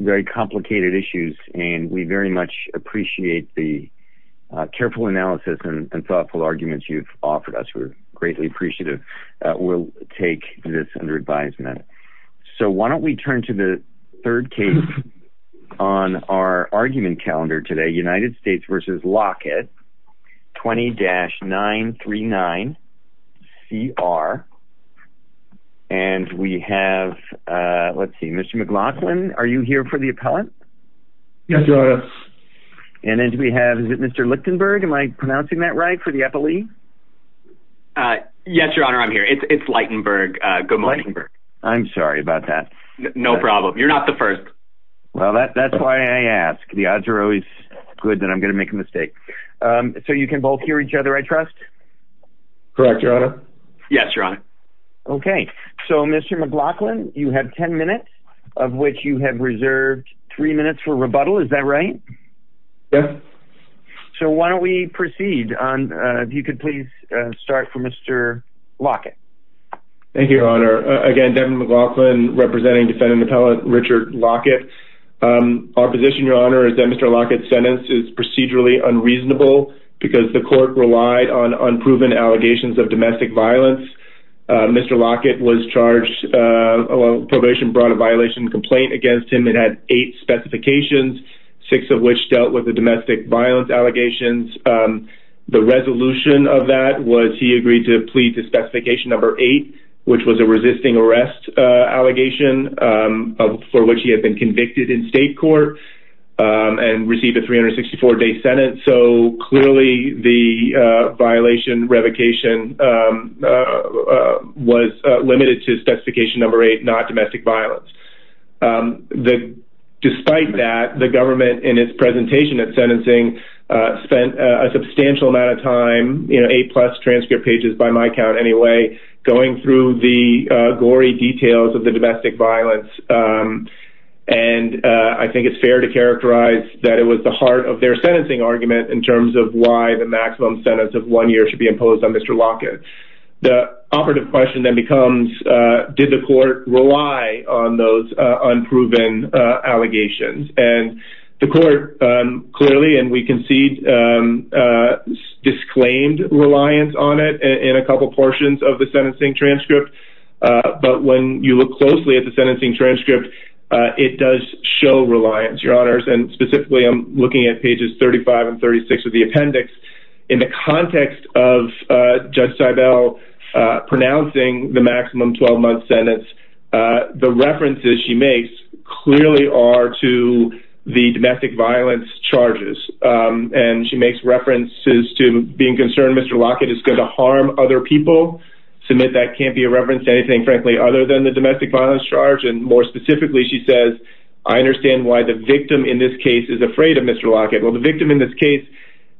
very complicated issues and we very much appreciate the careful analysis and thoughtful arguments you've offered us. We're greatly appreciative that we'll take this under advisement. So why don't we turn to the third case on our argument calendar today, United States versus Lockett 20-939CR and we have let's see, Mr. McLaughlin, are you here for the appellant? Yes, Your Honor. And then do we have, is it Mr. Lichtenberg? Am I pronouncing that right for the appellee? Yes, Your Honor, I'm here. It's Lichtenberg. Good morning. I'm sorry about that. No problem. You're not the first. Well, that's why I ask. The odds are always good that I'm gonna make a mistake. So you can both hear each other, I trust? Correct, Your Honor. Yes, Your Honor. Okay, so Mr. McLaughlin, you have ten minutes of which you have reserved three minutes for rebuttal, is that right? Yes. So why don't we proceed on, if you could please start for Mr. Lockett. Thank you, Your Honor. Again, Devin McLaughlin representing defendant appellant Richard Lockett. Our position, Your Honor, is that Mr. Lockett's sentence is procedurally unreasonable because the court relied on unproven allegations of domestic violence. Mr. Lockett was charged, probation brought a violation complaint against him. It had eight specifications, six of which dealt with the domestic violence allegations. The resolution of that was he agreed to plead to specification number eight, which was a resisting arrest allegation for which he was charged. So clearly the violation revocation was limited to specification number eight, not domestic violence. Despite that, the government in its presentation at sentencing spent a substantial amount of time, you know, eight plus transcript pages by my count anyway, going through the gory details of the domestic violence. And I think it's fair to characterize that it was the heart of their sentencing argument in terms of why the maximum sentence of one year should be imposed on Mr. Lockett. The operative question then becomes, did the court rely on those unproven allegations? And the court clearly, and we concede, disclaimed reliance on it in a couple portions of the sentencing transcript. But when you look closely at the sentencing transcript, it does show reliance, Your Honors. And specifically, I'm looking at pages 35 and 36 of the appendix. In the context of Judge Seibel pronouncing the maximum 12-month sentence, the references she makes clearly are to the domestic violence charges. And she makes references to being concerned Mr. Lockett is going to harm other people. Submit that can't be a reference to anything, frankly, other than the domestic violence charge. And more specifically, she says, I understand why the victim in this case is afraid of Mr. Lockett. Well, the victim in this case,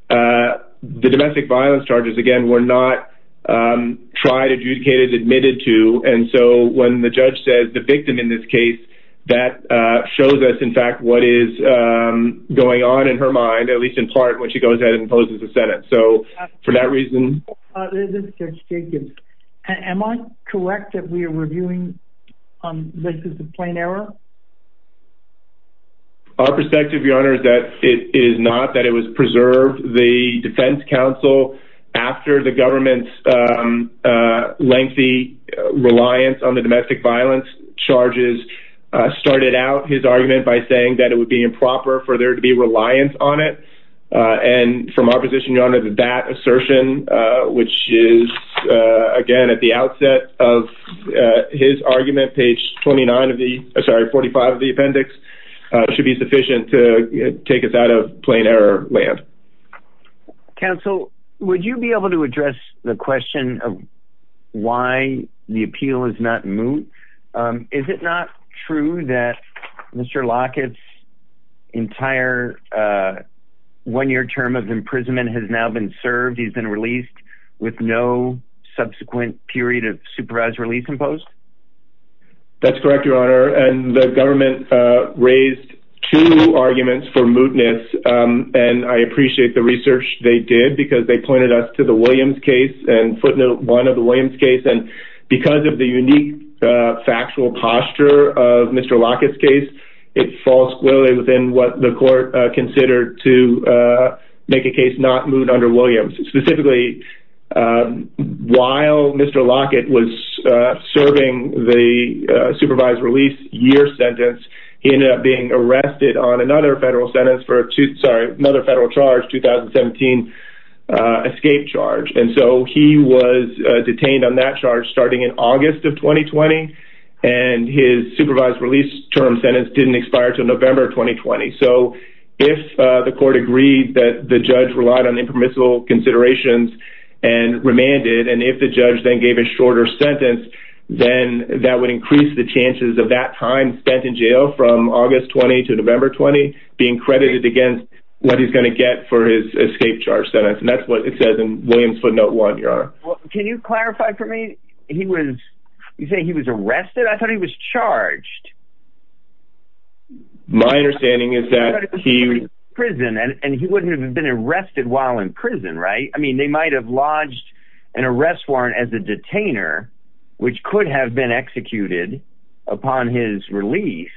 the domestic violence charges, again, were not tried, adjudicated, admitted to. And so when the judge says the victim in this case, that shows us, in fact, what is going on in her mind, at least in part, when she goes ahead and imposes a sentence. So for that reason... This is Judge Jacobs. Am I correct that we are reviewing this as a plain error? Our perspective, Your Honor, is that it is not, that it was preserved. The Defense Counsel, after the government's lengthy reliance on the domestic violence charges, started out his argument by saying that it would be improper for there to be reliance on it. And from our position, Your Honor, that that which is, again, at the outset of his argument, page 29 of the, sorry, 45 of the appendix, should be sufficient to take us out of plain error land. Counsel, would you be able to address the question of why the appeal is not moved? Is it not true that Mr. Lockett's entire one-year term of no subsequent period of supervised release imposed? That's correct, Your Honor. And the government raised two arguments for mootness. And I appreciate the research they did because they pointed us to the Williams case and footnote one of the Williams case. And because of the unique factual posture of Mr. Lockett's case, it falls squarely within what the court considered to make a case not moot under Williams. Specifically, while Mr. Lockett was serving the supervised release year sentence, he ended up being arrested on another federal sentence for a two, sorry, another federal charge, 2017, escape charge. And so he was detained on that charge starting in August of 2020. And his supervised release term sentence didn't expire till if the court agreed that the judge relied on impermissible considerations and remanded and if the judge then gave a shorter sentence, then that would increase the chances of that time spent in jail from August 20 to November 20 being credited against what he's going to get for his escape charge sentence. And that's what it says in Williams footnote one, Your Honor. Can you clarify for me? He was saying he was arrested. I thought he was prison and he wouldn't have been arrested while in prison, right? I mean, they might have lodged an arrest warrant as a detainer, which could have been executed upon his release.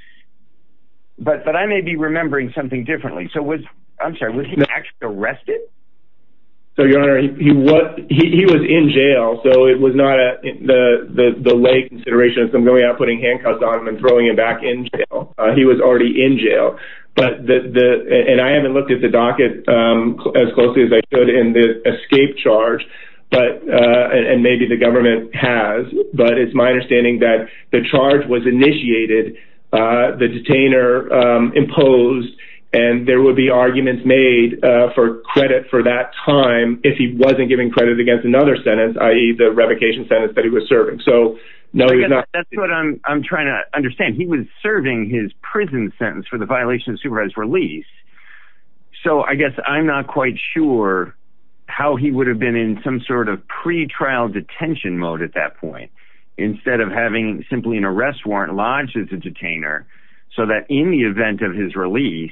But but I may be remembering something differently. So was I'm sorry, was he actually arrested? So your honor, he was he was in jail. So it was not the the lay consideration of them going out putting handcuffs on him and throwing him back in jail. He was already in jail. But the and I haven't looked at the docket as closely as I could in the escape charge. But and maybe the government has. But it's my understanding that the charge was initiated. The detainer imposed and there would be arguments made for credit for that time if he wasn't given credit against another sentence, i.e. the revocation sentence that he was serving. So no, that's what I'm trying to understand. He was serving his prison sentence for the violation of supervised release. So I guess I'm not quite sure how he would have been in some sort of pretrial detention mode at that point, instead of having simply an arrest warrant lodged as a detainer, so that in the event of his release,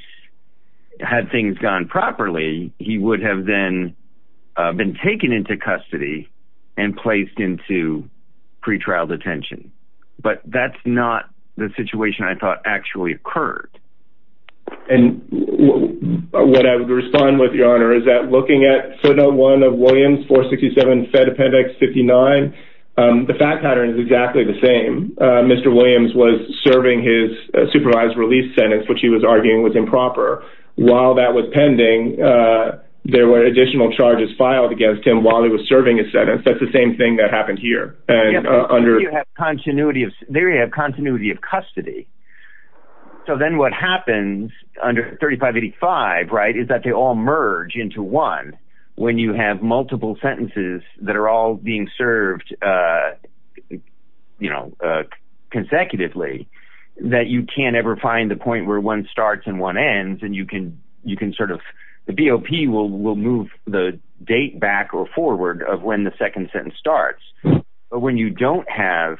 had things gone properly, he would have then been taken into custody and placed into pretrial detention. But that's not the situation I thought actually occurred. And what I would respond with your honor is that looking at photo one of Williams for 67 Fed appendix 59. The fact pattern is exactly the same. Mr. Williams was serving his supervised release sentence, which he was arguing was improper. While that was pending. There were additional charges filed against him while he was serving a sentence. That's the same thing that happened here. And under continuity of, there you have continuity of custody. So then what happens under 3585, right, is that they all merge into one, when you have multiple sentences that are all being served, you know, consecutively, that you can't ever find the point where one starts and one ends and you can, you can he will will move the date back or forward of when the second sentence starts. But when you don't have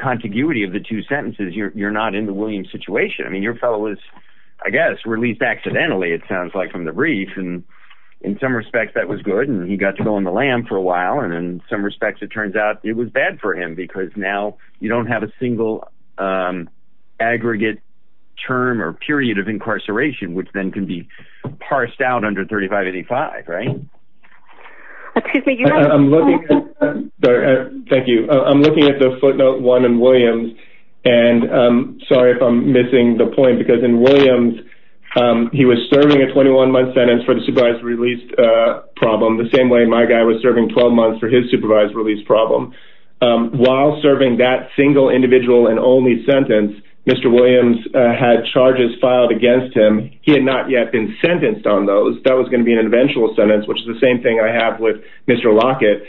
contiguity of the two sentences, you're not in the Williams situation. I mean, your fellow was, I guess, released accidentally, it sounds like from the brief. And in some respects, that was good. And he got to go on the lam for a while. And in some respects, it turns out it was bad for him, because now you don't have a single aggregate term or parsed out under 3585. Right. Thank you. I'm looking at the footnote one and Williams. And sorry if I'm missing the point because in Williams, he was serving a 21 month sentence for the supervised released problem the same way my guy was serving 12 months for his supervised release problem. While serving that single individual and only sentence, Mr. Williams had charges filed against him, he had not yet been sentenced on those that was going to be an eventual sentence, which is the same thing I have with Mr. Lockett.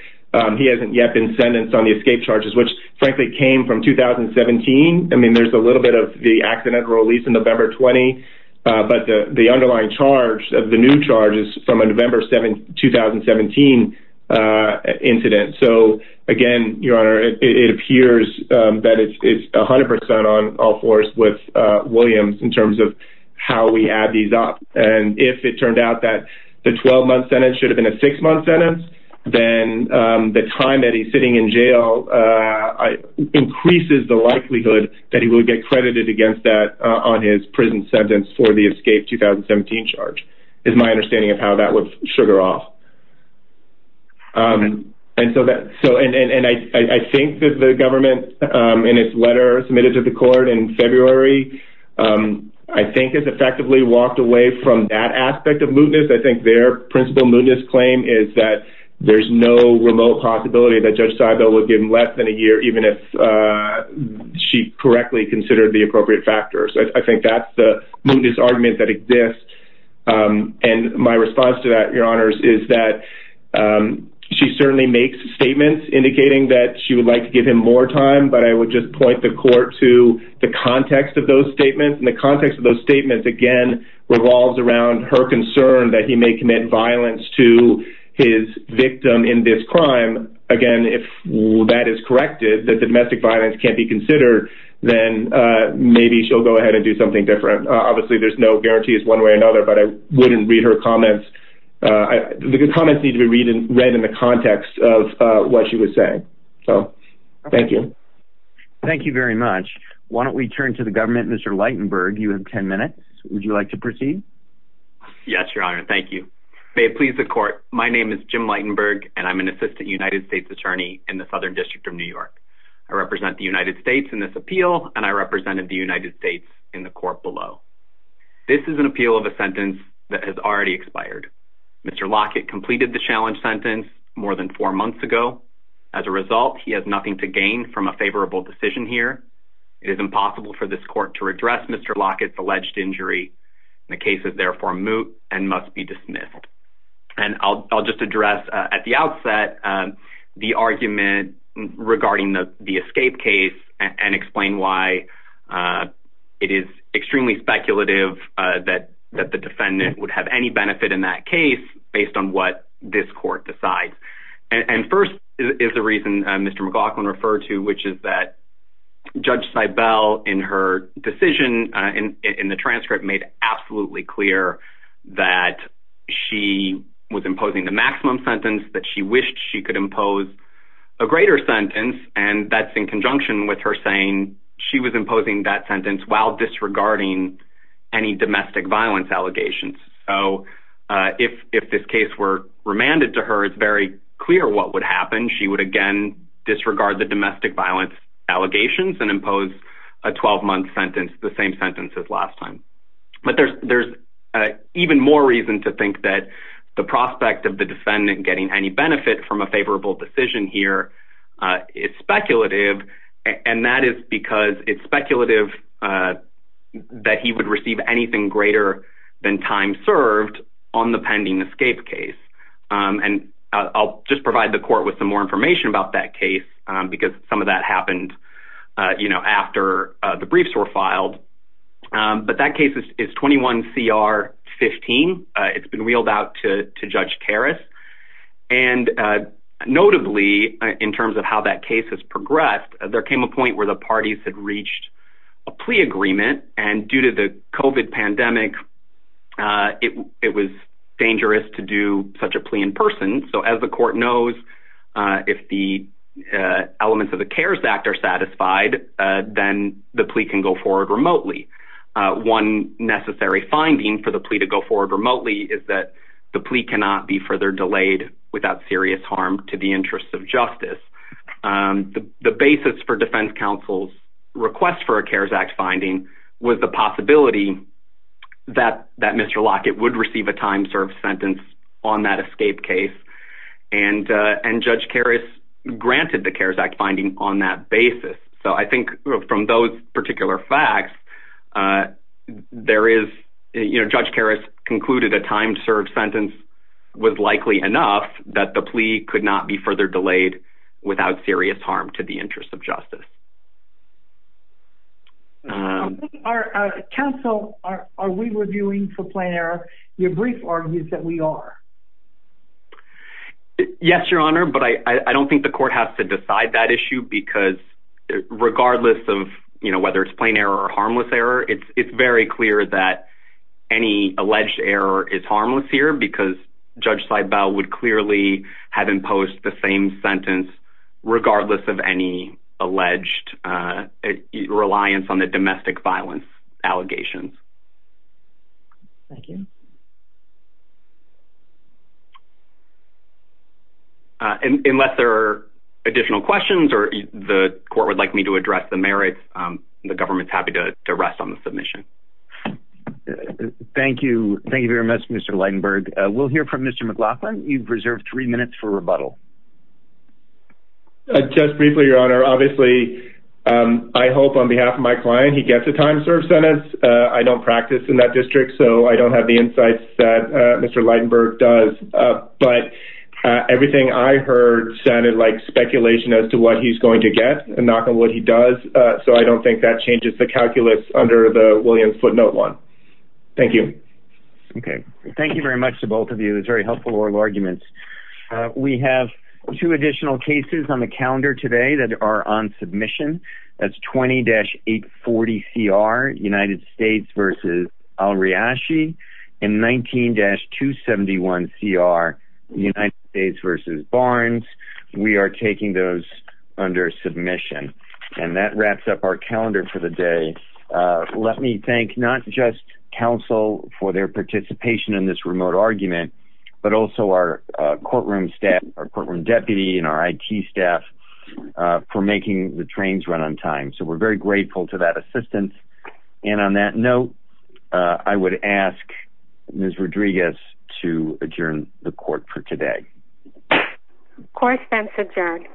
He hasn't yet been sentenced on the escape charges, which frankly came from 2017. I mean, there's a little bit of the accidental release in November 20. But the underlying charge of the new charges from a November 7 2017 incident. So again, Your Honor, it appears that it's 100% on all fours with Williams in terms of how we add these up. And if it turned out that the 12 month sentence should have been a six month sentence, then the time that he's sitting in jail increases the likelihood that he will get credited against that on his prison sentence for the escape 2017 charge is my understanding of how that would sugar off. And so that so and I think that the government in its letter submitted to the court in February, I think it's effectively walked away from that aspect of mootness. I think their principle mootness claim is that there's no remote possibility that Judge Seibel will give him less than a year even if she correctly considered the appropriate factors. I think that's the mootness argument that exists. And my response to that, Your Honors is that she certainly makes statements indicating that she would like to give him more time, but I would just point the court to the context of those statements. And the context of those statements, again, revolves around her concern that he may commit violence to his victim in this crime. Again, if that is corrected, that the domestic violence can't be considered, then maybe she'll go ahead and do something different. Obviously, there's no guarantee is one way or another, but I wouldn't read her comments. The comments need to be read and read in the context of what she was saying. So thank you. Thank you very much. Why don't we turn to the government? Mr. Lightenberg, you have 10 minutes. Would you like to proceed? Yes, Your Honor. Thank you. May it please the court. My name is Jim Lightenberg, and I'm an assistant United States attorney in the Southern District of New York. I represent the United States in this appeal, and I represented the United States in the court below. This is an appeal of a sentence that has already expired. Mr. Lockett completed the challenge sentence more than four months ago. As a result, he has nothing to gain from a favorable decision here. It is impossible for this court to redress Mr. Lockett's alleged injury. The case is therefore moot and must be dismissed. And I'll just address at the outset the argument regarding the escape case and explain why it is extremely speculative that the defendant would have any benefit in that case based on what this court decides. And first is the reason Mr. McLaughlin referred to, which is that Judge Cybel in her decision in the transcript made absolutely clear that she was imposing the maximum sentence that she wished she could impose a greater sentence. And that's in conjunction with her saying she was imposing that sentence. So if this case were remanded to her, it's very clear what would happen. She would again disregard the domestic violence allegations and impose a 12-month sentence, the same sentence as last time. But there's even more reason to think that the prospect of the defendant getting any benefit from a favorable decision here is speculative. And that is because it's speculative that he would receive anything greater than time served on the pending escape case. And I'll just provide the court with some more information about that case, because some of that happened, you know, after the briefs were filed. But that case is 21 CR 15. It's been wheeled out to Judge Karras. And notably, in terms of how that case has progressed, there came a point where the parties had reached a plea agreement. And due to the COVID pandemic, it was dangerous to do such a plea in person. So as the court knows, if the elements of the CARES Act are satisfied, then the plea can go forward remotely. One necessary finding for the plea to go forward remotely is that the plea cannot be further delayed without serious harm to the interests of defense counsel's request for a CARES Act finding was the possibility that that Mr. Lockett would receive a time served sentence on that escape case. And, and Judge Karras granted the CARES Act finding on that basis. So I think from those particular facts, there is, you know, Judge Karras concluded a time served sentence was likely enough that the plea could not be further delayed without serious harm to the interests of justice. Our counsel, are we reviewing for plain error, your brief argues that we are? Yes, Your Honor, but I don't think the court has to decide that issue. Because regardless of, you know, whether it's plain error or harmless error, it's very clear that any alleged error is harmless here, because Judge Seibel would clearly have imposed the same sentence, regardless of any alleged reliance on the domestic violence allegations. Thank you. Unless there are additional questions or the court would like me to address the merits, the government's happy to rest on the submission. Thank you. Thank you very much, Mr. Lightenberg. We'll hear from Mr. McLaughlin. You've reserved three minutes for rebuttal. Just briefly, Your Honor, obviously, I hope on behalf of my client, he gets a time served sentence. I don't practice in that district, so I don't have the insights that Mr. Lightenberg does. But everything I heard sounded like speculation as to what he's going to get and knock on wood he does. So I don't think that changes the calculus under the Williams footnote one. Thank you. Okay. Thank you very much to both of you. It's very helpful oral arguments. We have two additional cases on the calendar today that are on submission. That's 20-840 CR, United States versus Al-Riashi and 19-271 CR, United States versus Barnes. We are taking those under submission and that wraps up our calendar for the day. Let me thank not just counsel for their participation in this remote argument, but also our courtroom staff, our courtroom deputy and our I.T. staff for making the trains run on time. So we're very grateful to that assistance. And on that note, I would ask Ms. Rodriguez to adjourn the court for today. Correspondence adjourned.